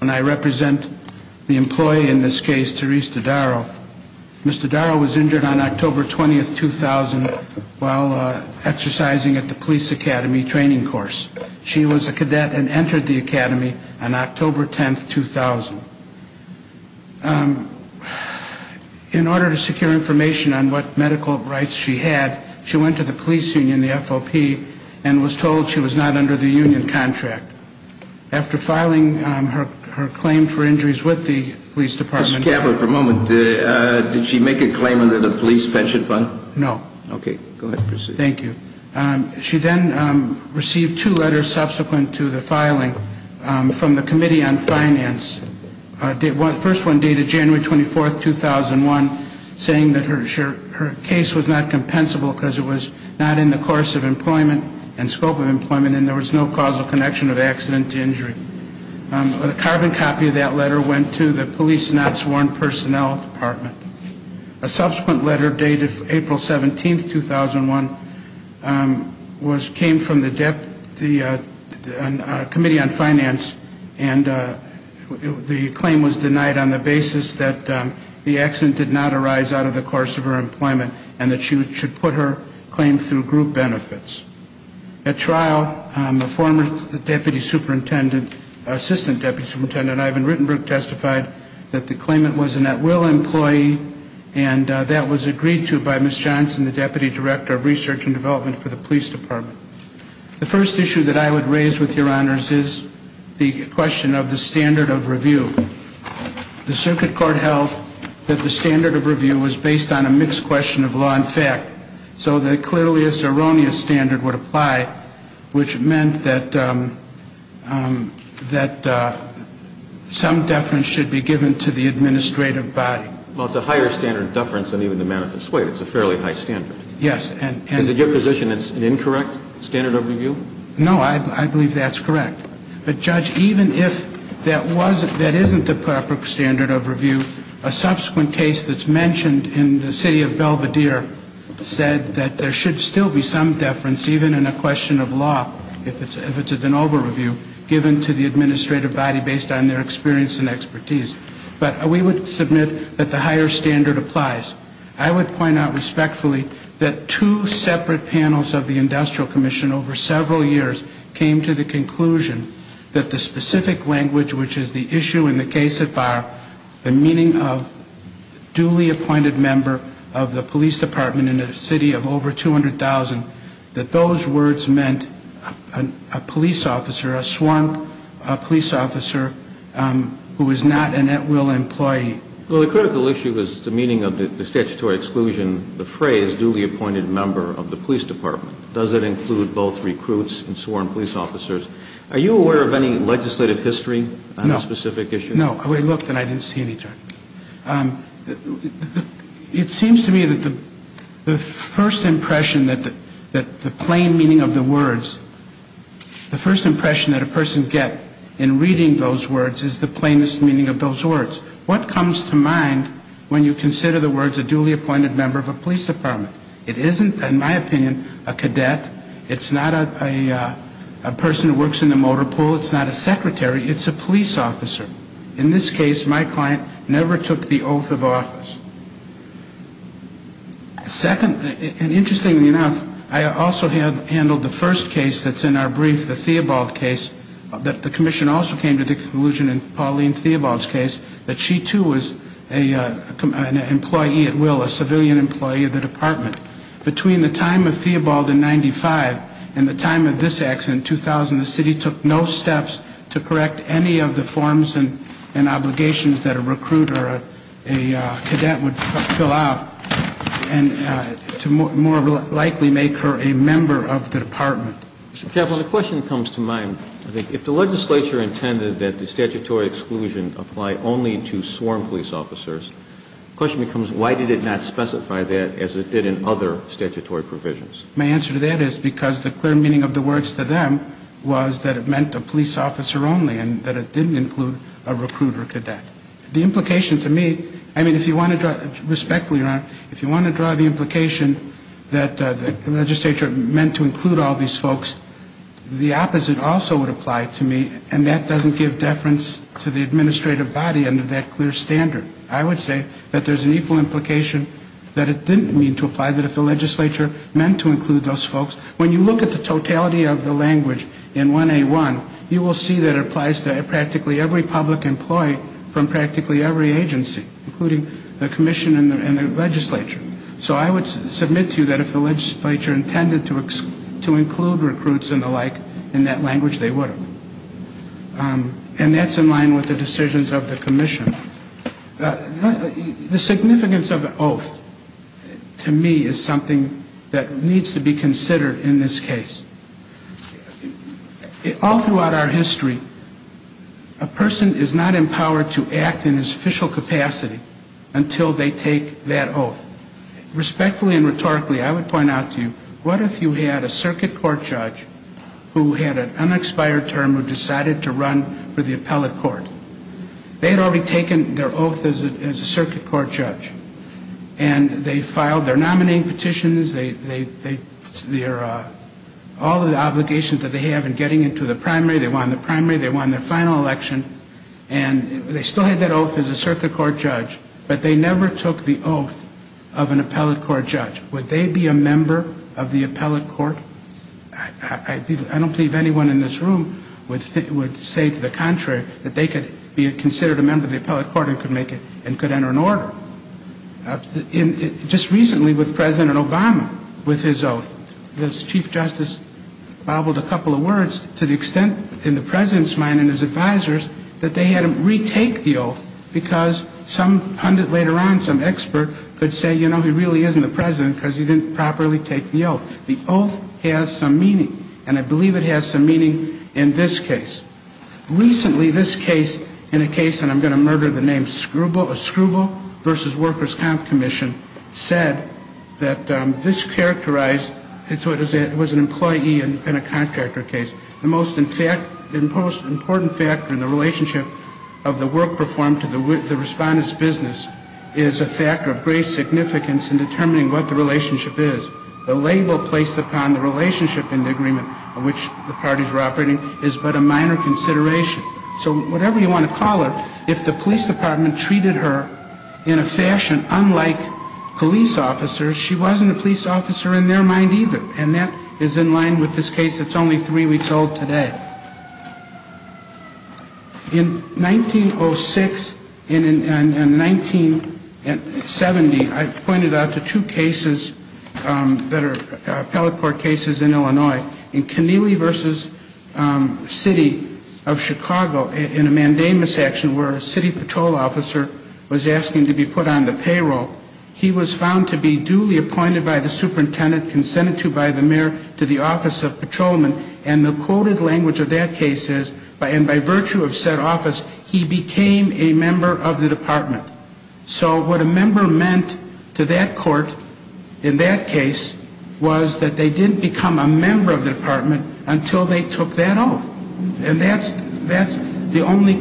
and I represent the employee in this case, Therese Dodaro. Ms. Dodaro was injured on October 20, 2000, while exercising at the police academy training course. She was a cadet and entered the academy on October 10, 2000. In order to secure information on what medical rights she had, she went to the police union, the FOP, and was told she was not under the union contract. After filing her claim for injuries with the police department... Mr. Kavler, for a moment, did she make a claim under the police pension fund? No. Okay, go ahead, proceed. Thank you. She then received two letters subsequent to the filing from the Committee on Finance. The first one dated January 24, 2001, saying that her case was not compensable and then there was no causal connection of accident to injury. A carbon copy of that letter went to the Police Not Sworn Personnel Department. A subsequent letter dated April 17, 2001, came from the Committee on Finance and the claim was denied on the basis that the accident did not arise out of the course of her employment and that she should put her claim through group benefits. At trial, the former Deputy Superintendent, Assistant Deputy Superintendent Ivan Rittenbrook testified that the claimant was a net will employee and that was agreed to by Ms. Johnson, the Deputy Director of Research and Development for the Police Department. The first issue that I would raise with your honors is the question of the standard of review. The circuit court held that the standard of review was based on a mixed question of law and fact. So that clearly a Ceronius standard would apply, which meant that some deference should be given to the administrative body. Well, it's a higher standard of deference than even the manifest waive. It's a fairly high standard. Yes. Is it your position it's an incorrect standard of review? No, I believe that's correct. But Judge, even if that wasn't, that isn't the perfect standard of review, a subsequent case that's mentioned in the City of Belvedere said that there should still be some deference, even in a question of law, if it's a de novo review, given to the administrative body based on their experience and expertise. But we would submit that the higher standard applies. I would point out respectfully that two separate panels of the Industrial Commission over several years came to the conclusion that the specific language, which is the issue in the case at bar, the meaning of duly appointed member of the police department in a city of over 200,000, that those words meant a police officer, a sworn police officer who is not an at-will employee. Well, the critical issue is the meaning of the statutory exclusion, the phrase duly appointed member of the police department. Does it include both recruits and sworn police officers? Are you aware of any legislative history on this specific issue? No. We looked and I didn't see any. It seems to me that the first impression that the plain meaning of the words, the first impression that a person gets in reading those words is the plainest meaning of those words. What comes to mind when you consider the words a duly appointed member of a police department? It isn't, in my opinion, a cadet. It's not a person who works in the motor pool. It's not a secretary. It's a police officer. In this case, my client never took the oath of office. Second, and interestingly enough, I also handled the first case that's in our brief, the Theobald case, that the commission also came to the conclusion in Pauline Theobald's case that she too was an employee at will, a civilian employee of the department. Between the time of Theobald in 95 and the time of this accident in 2000, the city took no steps to correct any of the forms and obligations that a recruiter, a cadet would fill out and to more likely make her a member of the department. Mr. Keppel, the question comes to mind. If the legislature intended that the statutory exclusion apply only to sworn police officers, the question becomes why did it not specify that as it did in other statutory provisions? My answer to that is because the clear meaning of the words to them was that it meant a police officer only and that it didn't include a recruiter cadet. The implication to me, I mean, if you want to draw, respectfully, Your Honor, if you want to draw the implication that the legislature meant to include all these folks, the opposite also would apply to me and that doesn't give deference to the administrative body under that clear standard. I would say that there's an equal implication that it didn't mean to apply that if the legislature meant to include those folks. When you look at the totality of the language in 1A1, you will see that it applies to practically every public employee from practically every agency, including the commission and the legislature. So I would submit to you that if the legislature intended to include recruits and the like, in that language, they would have. And that's in line with the decisions of the commission. The significance of the oath, to me, is something that needs to be considered in this case. All throughout our history, a person is not empowered to act in his official capacity until they take that oath. Respectfully and rhetorically, I would point out to you, what if you had a circuit court judge who had an unexpired term who decided to run for the appellate court? They had already taken their oath as a circuit court judge. And they filed their nominating petitions, all of the obligations that they have in getting into the primary. They won the primary. They won their final election. And they still had that oath as a circuit court judge. But they never took the oath of an appellate court judge. Would they be a member of the appellate court? I don't believe anyone in this room would say to the contrary that they could be considered a member of the appellate court and could enter an order. Just recently with President Obama, with his oath, the Chief Justice babbled a couple of words to the extent in the President's mind and his advisors that they had him retake the oath because some pundit later on, some expert could say, you know, he really isn't the President because he didn't properly take the oath. The oath has some meaning. And I believe it has some meaning in this case. Recently, this case, in a case, and I'm going to murder the name, a Scribble versus Workers' Comp Commission said that this characterized, it was an employee and a contractor case. The most important factor in the relationship of the work performed to the respondent's business is a factor of great significance in determining what the relationship is. The label placed upon the relationship in the agreement in which the parties were operating is but a minor consideration. So whatever you want to call her, if the police department treated her in a fashion unlike police officers, she wasn't a police officer in their mind either. And that is in line with this case that's only three weeks old today. In 1906 and 1970, I pointed out the two cases that are appellate court cases in Illinois. In Keneally v. City of Chicago, in a mandamus action where a city patrol officer was asking to be put on the payroll, he was found to be duly appointed by the superintendent, consented to by the mayor, to the office of patrolman. And the quoted language of that case is, and by virtue of said office, he became a member of the department. So what a member meant to that court in that case was that they didn't become a member of the department until they took that oath. And that's the only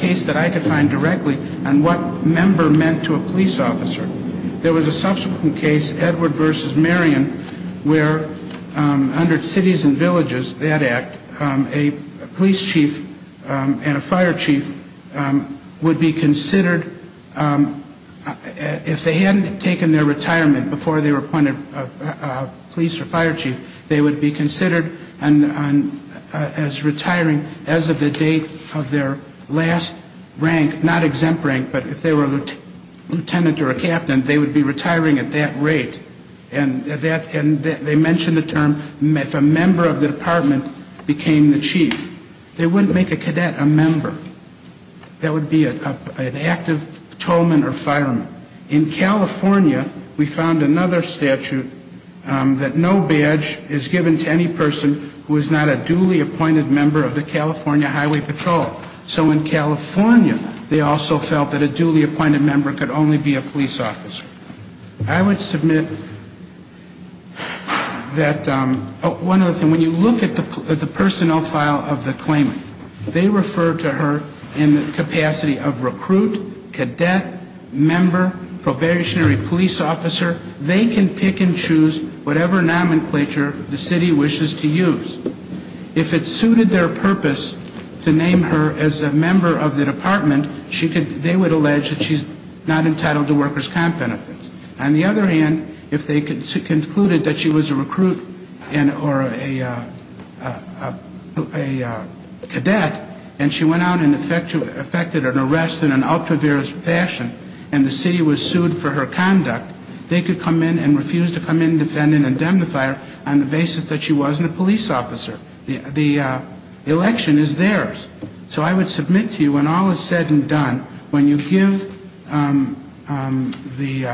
case that I could find directly on what member meant to a police officer. There was a subsequent case, Edward v. Marion, where under Cities and Villages, that act, a police chief and a fire chief would be considered, if they hadn't taken their retirement before they were appointed police or fire chief, they would be considered as retiring as of the date of their last rank, not exempt rank, but if they were a lieutenant or a captain, they would be retiring at that rate. And they mentioned the term, if a member of the department became the chief, they wouldn't make a cadet a member. That would be an active patrolman or fireman. In California, we found another statute that no badge is given to any person who is not a duly appointed member of the California Highway Patrol. So in California, they also felt that a duly appointed member could only be a police officer. I would submit that, one other thing, when you look at the personnel file of the claimant, they refer to her in the capacity of recruit, cadet, member, probationary police officer, they can pick and choose whatever nomenclature the city wishes to use. If it suited their purpose to name her as a member of the department, they would allege that she's not entitled to workers' comp benefits. On the other hand, if they concluded that she was a recruit or a cadet, and she went out and effected an arrest in an altruistic fashion, and the city was sued for her conduct, they could come in and refuse to come in and defend an indemnifier on the basis that she wasn't a police officer. The election is theirs. So I would submit to you, when all is said and done, when you give the police officer the right to be a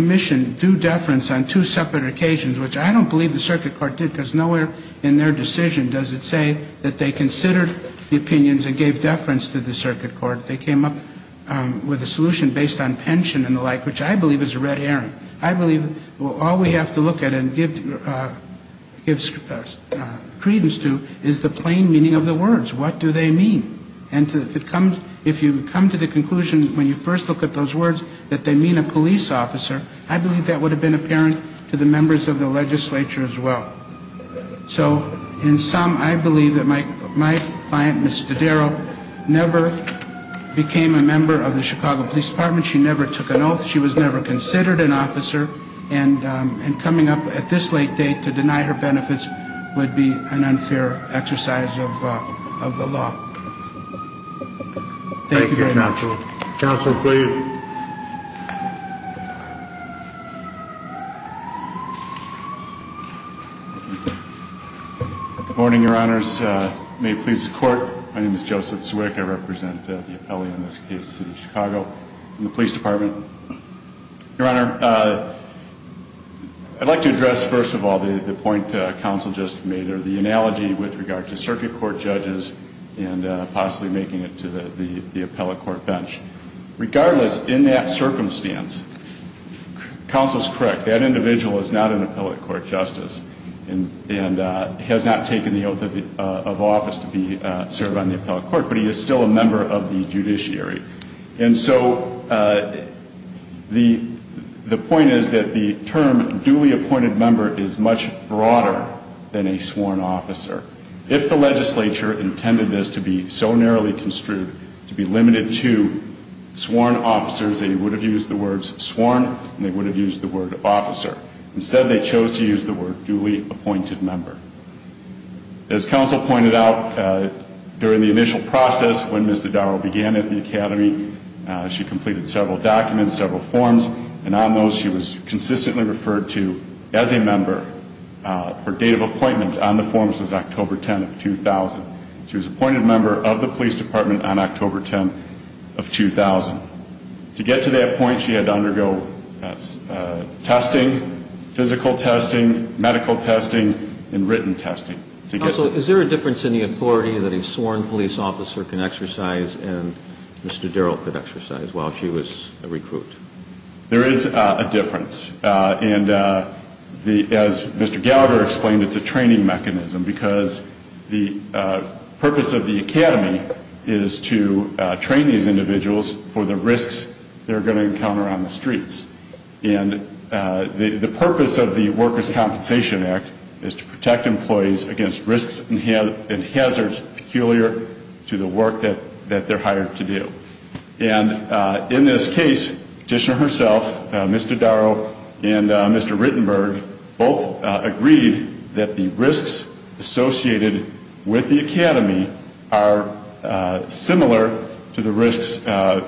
member of the department, that she is a member of the department. And if you come to the conclusion that the commission due deference on two separate occasions, which I don't believe the circuit court did, because nowhere in their decision does it say that they considered the opinions and gave deference to the circuit court, they came up with a solution based on pension and the like, which I believe is a red herring, I believe all we have to look at and give credence to is the plain meaning of the words, what do they mean. And if you come to the conclusion when you first look at those words that they mean a police officer, I believe that would have been apparent to the members of the legislature as well. So in sum, I believe that my client, Ms. Dodaro, never became a member of the Chicago Police Department, she never took an oath, she was never considered an officer, and coming up at this late date to deny her benefits would be an unfair exercise of the law. Thank you very much. Good morning, your honors. May it please the court, my name is Joseph Zwick, I represent the appellee in this case, Chicago Police Department. Your honor, I'd like to address first of all the point counsel just made or the analogy with regard to circuit court judges and possibly the police department, and I think it's important to understand that the judge is not an appellate court judge and is not possibly making it to the appellate court bench. Regardless, in that circumstance, counsel is correct, that individual is not an appellate court justice and has not taken the oath of office to be served on the appellate court, but he is still a member of the judiciary. And so the point is that the term duly appointed member is much broader than a sworn officer. If the legislature intended this to be so narrowly construed, to be limited to sworn officers, they would have used the words sworn and they would have used the word officer. Instead, they chose to use the word duly appointed member. As counsel pointed out, during the initial process when Ms. Dodaro began at the academy, she completed several documents, several forms, and on those she was consistently referred to as a member. Her date of appointment on the forms was October 10 of 2000. She was appointed member of the police department on October 10 of 2000. To get to that point, she had to undergo testing, physical testing, medical testing, and written testing. Counsel, is there a difference in the authority that a sworn police officer can exercise and Mr. Darrell could exercise while she was a recruit? There is a difference. And as Mr. Gallagher explained, it's a training mechanism because the purpose of the academy is to train these individuals for the risks they're going to encounter on the streets. And the purpose of the Workers' Compensation Act is to protect employees against risks and hazards peculiar to the work that they're hired to do. And in this case, the petitioner herself, Mr. Darrell, and Mr. Rittenberg both agreed that the risks associated with the academy are similar to the risks that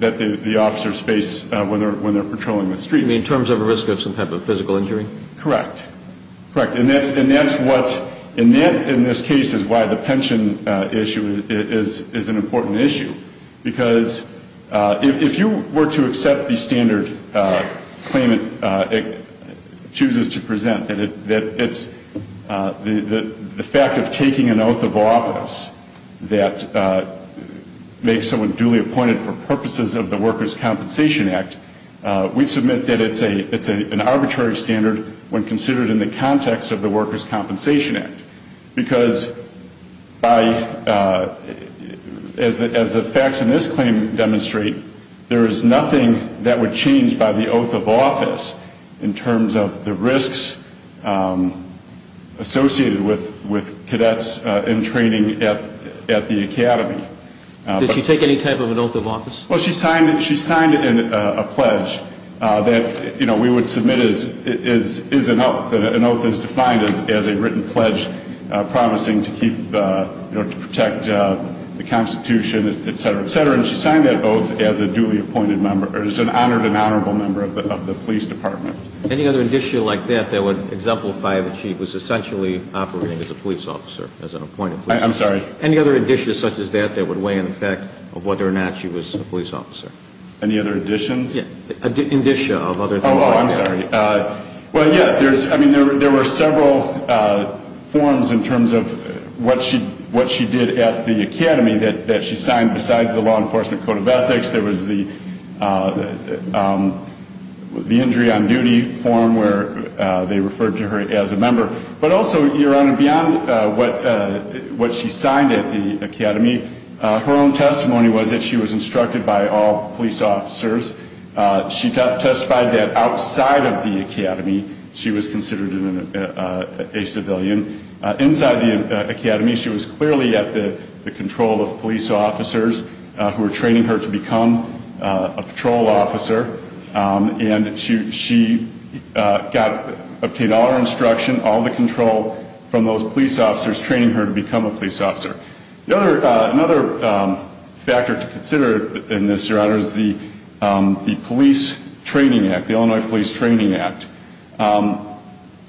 the officers face when they're patrolling the streets. You mean in terms of a risk of some type of physical injury? Correct. And that's what, in this case, is why the pension issue is an important issue. Because if you were to accept the standard claim it chooses to present, that it's the fact of taking an oath of office that makes someone duly appointed for purposes of the Workers' Compensation Act, we submit that it's an arbitrary standard. When considered in the context of the Workers' Compensation Act, because by, as the facts in this claim demonstrate, there is nothing that would change by the oath of office in terms of the risks associated with cadets in training at the academy. Did she take any type of an oath of office? Well, she signed a pledge that we would submit as an oath, and an oath is defined as a written pledge promising to protect the Constitution, et cetera, et cetera. And she signed that oath as an honored and honorable member of the police department. Any other issue like that that would exemplify that she was essentially operating as a police officer, as an appointed police officer? I'm sorry? Any other indicia such as that that would weigh in the fact of whether or not she was a police officer? Any other indicia? Yes. Indicia of other things like that. Oh, I'm sorry. Well, yes, I mean, there were several forms in terms of what she did at the academy that she signed besides the law enforcement code of ethics. There was the injury on duty form where they referred to her as a member. But also, Your Honor, beyond what she signed at the academy, her own testimony was that she was instructed by all police officers. She testified that outside of the academy she was considered a civilian. Inside the academy she was clearly at the control of police officers who were training her to become a patrol officer. And she obtained all her instruction, all the control from those police officers training her to become a police officer. Another factor to consider in this, Your Honor, is the Police Training Act, the Illinois Police Training Act,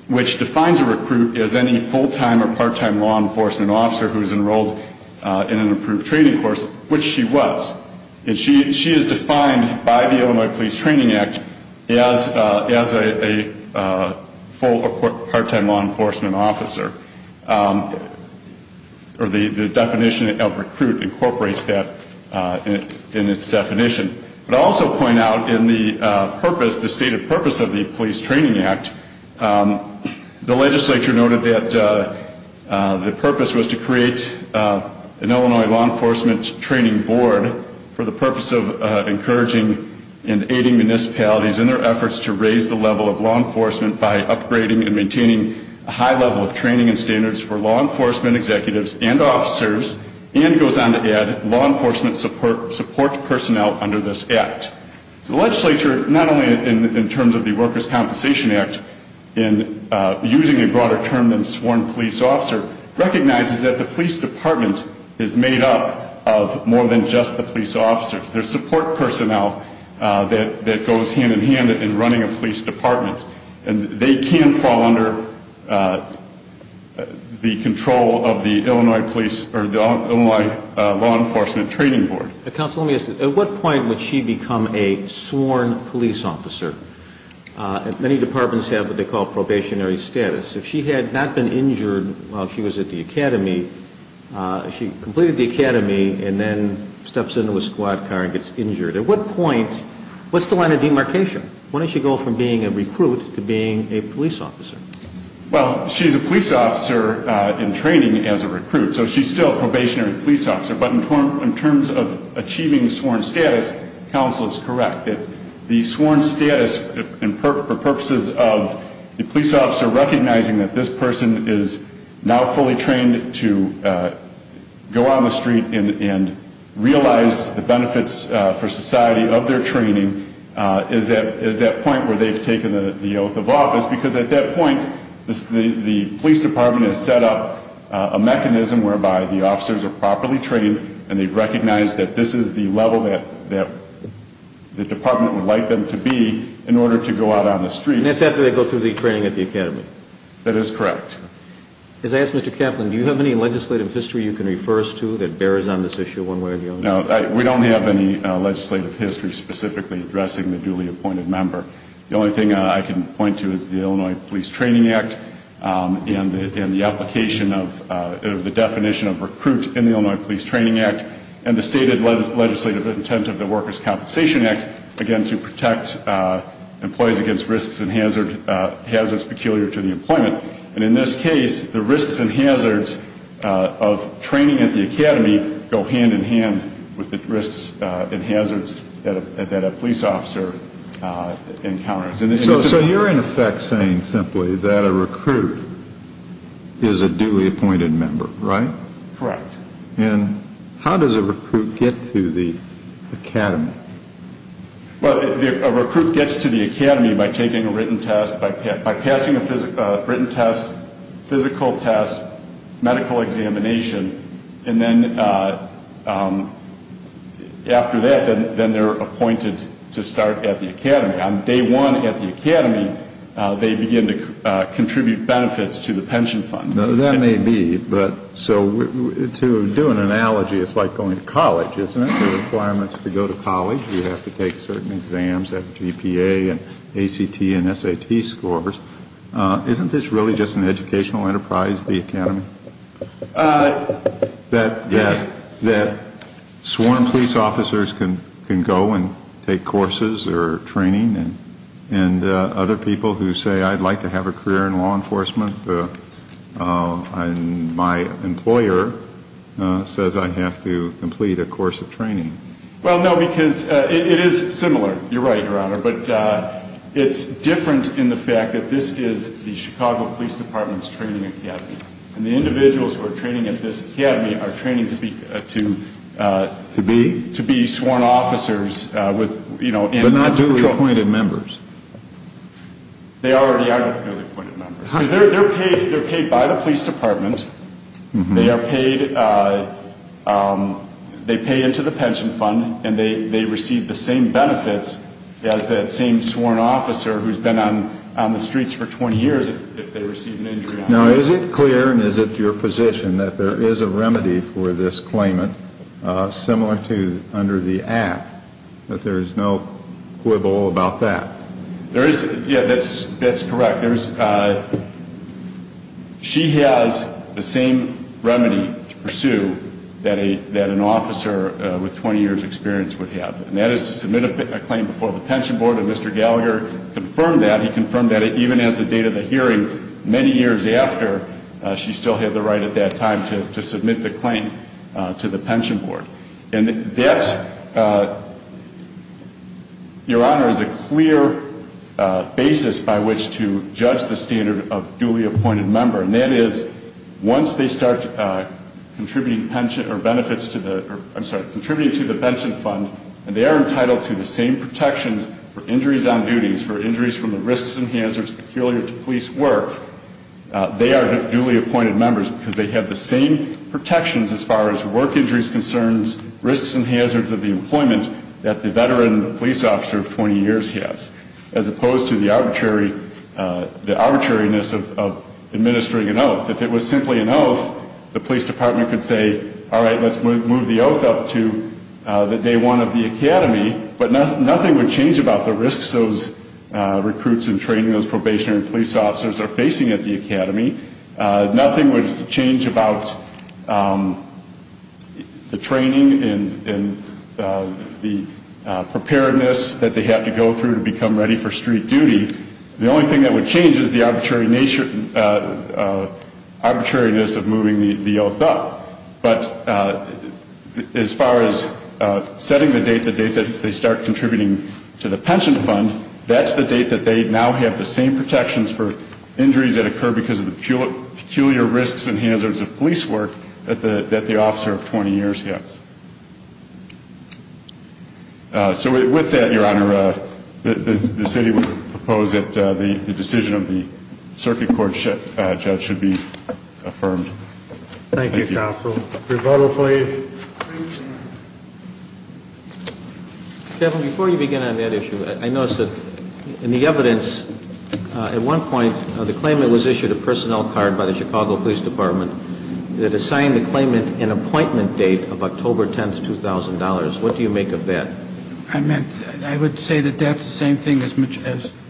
which defines a recruit as any full-time or part-time law enforcement officer who is enrolled in an approved training course, which she was. And she is defined by the Illinois Police Training Act as a full or part-time law enforcement officer. Or the definition of recruit incorporates that in its definition. But I'll also point out in the purpose, the stated purpose of the Police Training Act, the legislature noted that the purpose was to create an Illinois law enforcement training board. For the purpose of encouraging and aiding municipalities in their efforts to raise the level of law enforcement by upgrading and maintaining a high level of training and standards for law enforcement executives and officers. And goes on to add, law enforcement support personnel under this act. So the legislature, not only in terms of the Workers' Compensation Act, in using a broader term than sworn police officer, recognizes that the police department is made up of more than just the police department. It's the police officers, their support personnel that goes hand-in-hand in running a police department. And they can fall under the control of the Illinois law enforcement training board. At what point would she become a sworn police officer? Many departments have what they call probationary status. If she had not been injured while she was at the academy, she completed the academy and then steps into a squad car and gets injured. At what point, what's the line of demarcation? Why don't you go from being a recruit to being a police officer? Well, she's a police officer in training as a recruit, so she's still a probationary police officer. But in terms of achieving sworn status, counsel is correct. The sworn status, for purposes of the police officer recognizing that this person is now fully trained to go on the street and realize the benefits for society of their training, is that point where they've taken the oath of office. Because at that point, the police department has set up a mechanism whereby the officers are properly trained. And they've recognized that this is the level that the department would like them to be in order to go out on the streets. And that's after they go through the training at the academy? That is correct. As I ask Mr. Kaplan, do you have any legislative history you can refer us to that bears on this issue one way or the other? No, we don't have any legislative history specifically addressing the duly appointed member. The only thing I can point to is the Illinois Police Training Act and the application of the definition of recruit in the Illinois Police Training Act. And the stated legislative intent of the Workers' Compensation Act, again, to protect employees against risks and hazards peculiar to the employment. And in this case, the risks and hazards of training at the academy go hand in hand with the risks and hazards that a police officer has to face. So you're in effect saying simply that a recruit is a duly appointed member, right? Correct. And how does a recruit get to the academy? Well, a recruit gets to the academy by taking a written test, by passing a written test, physical test, medical examination, and then after that, then they're appointed to start at the academy. On day one at the academy, they begin to contribute benefits to the pension fund. That may be, but so to do an analogy, it's like going to college, isn't it? The requirements to go to college, you have to take certain exams, have GPA and ACT and SAT scores. Isn't this really just an educational enterprise, the academy? Yes. So you're saying that sworn police officers can go and take courses or training and other people who say, I'd like to have a career in law enforcement, my employer says I have to complete a course of training. Well, no, because it is similar. You're right, Your Honor, but it's different in the fact that this is the Chicago Police Department's training academy. And the individuals who are training at this academy are training to be sworn officers. But not duly appointed members. They already are duly appointed members. They're paid by the police department, they pay into the pension fund, and they receive the same benefits as that same sworn officer who's been on the streets for 20 years if they receive an injury. Now, is it clear, and is it your position, that there is a remedy for this claimant, similar to under the Act, that there is no quibble about that? Yeah, that's correct. She has the same remedy to pursue that an officer with 20 years' experience would have, and that is to submit a claim before the pension board. And Mr. Gallagher confirmed that, he confirmed that even as the date of the hearing, many years after, she still had the right at that time to submit the claim to the pension board. And that, Your Honor, is a clear basis by which to judge the standard of duly appointed member. And that is, once they start contributing pension, or benefits to the, I'm sorry, contributing to the pension fund, and they are entitled to the same protections for injuries on duties, for injuries from the risks and hazards peculiar to police work, they are duly appointed members because they have the same protections as far as work injuries concerns, risks and hazards of the employment that the veteran police officer of 20 years has, as opposed to the arbitrary, the arbitrariness of administering an oath. If it was simply an oath, the police department could say, all right, let's move the oath up to the day one of the academy, but nothing would change about the risks and hazards of the employment. The risks those recruits in training, those probationary police officers are facing at the academy, nothing would change about the training and the preparedness that they have to go through to become ready for street duty. The only thing that would change is the arbitrariness of moving the oath up. But as far as setting the date, the date that they start contributing to the pension fund, that's the date that they now have the same protections for injuries that occur because of the peculiar risks and hazards of police work that the officer of 20 years has. So with that, Your Honor, the city would propose that the decision of the circuit court judge should be affirmed. Thank you, counsel. Revolver, please. Before you begin on that issue, I noticed that in the evidence, at one point, the claimant was issued a personnel card by the Chicago Police Department that assigned the claimant an appointment date of October 10, 2000. What do you make of that? I would say that that's the same thing as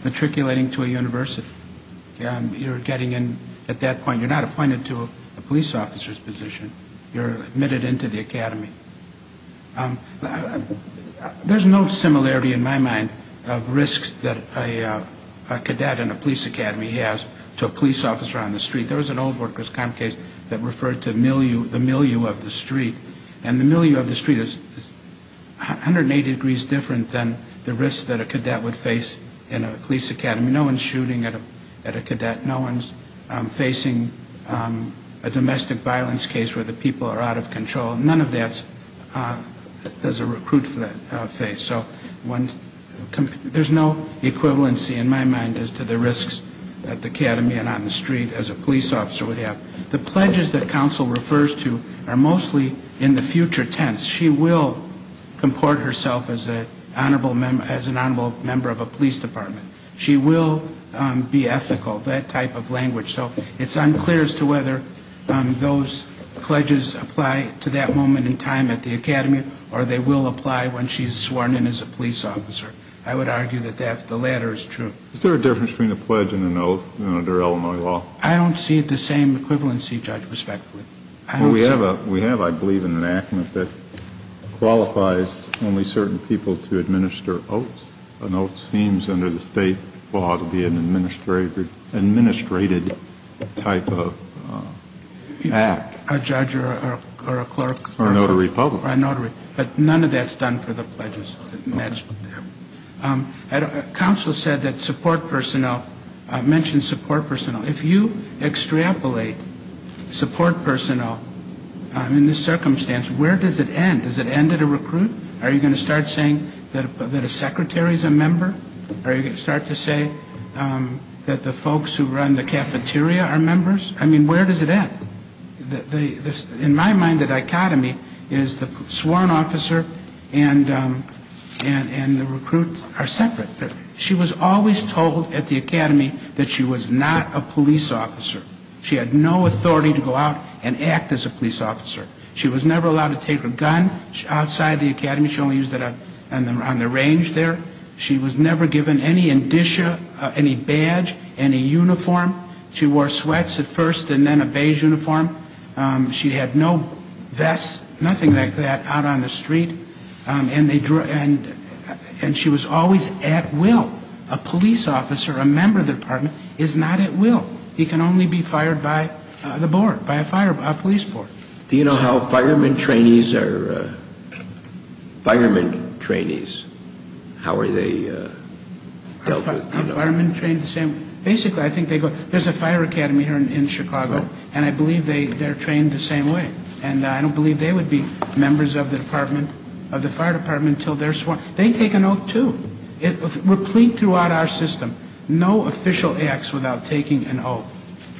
matriculating to a university. You're getting in at that point. You're not appointed to a police officer's position. You're admitted into the academy. There's no similarity in my mind of risks that a cadet in a police academy has to a police officer on the street. There was an old workers' comp case that referred to the milieu of the street. And the milieu of the street is 180 degrees different than the risk that a cadet would face in a police academy. No one's shooting at a cadet. No one's facing a domestic violence case where the people are out of control. None of that is a recruit for that case. So there's no equivalency in my mind as to the risks that the academy and on the street as a police officer would have. The pledges that counsel refers to are mostly in the future tense. She will comport herself as an honorable member of a police department. She will be ethical, that type of language. So it's unclear as to whether those pledges apply to that moment in time at the academy or they will apply when she's sworn in as a police officer. I would argue that the latter is true. Is there a difference between a pledge and an oath under Illinois law? I don't see the same equivalency, Judge, respectively. We have, I believe, an enactment that qualifies only certain people to administer oaths. An oath seems under the state law to be an administrated type of act. A judge or a clerk. Or a notary public. But none of that's done for the pledges. Counsel said that support personnel, mentioned support personnel. If you extrapolate support personnel in this circumstance, where does it end? Does it end at a recruit? Are you going to start saying that a secretary is a member? Are you going to start to say that the folks who run the cafeteria are members? I mean, where does it end? In my mind, the dichotomy is the sworn officer and the recruits are separate. She was always told at the academy that she was not a police officer. She had no authority to go out and act as a police officer. She was never allowed to take her gun outside the academy. She only used it on the range there. She was never given any indicia, any badge, any uniform. She wore sweats at first and then a beige uniform. She had no vests, nothing like that, out on the street. And she was always at will. A police officer, a member of the department, is not at will. He can only be fired by the board, by a police board. Do you know how firemen trainees are, firemen trainees? How are they dealt with? Basically, I think they go, there's a fire academy here in Chicago, and I believe they're trained the same way. And I don't believe they would be members of the department, of the fire department, until they're sworn. They take an oath, too. We're plead throughout our system, no official acts without taking an oath.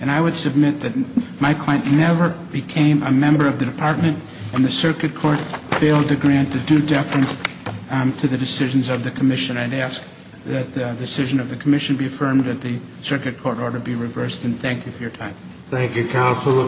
And I would submit that my client never became a member of the department and the circuit court failed to grant the due deference to the decisions of the commission. And I'd ask that the decision of the commission be affirmed, that the circuit court order be reversed. And thank you for your time. Thank you, counsel.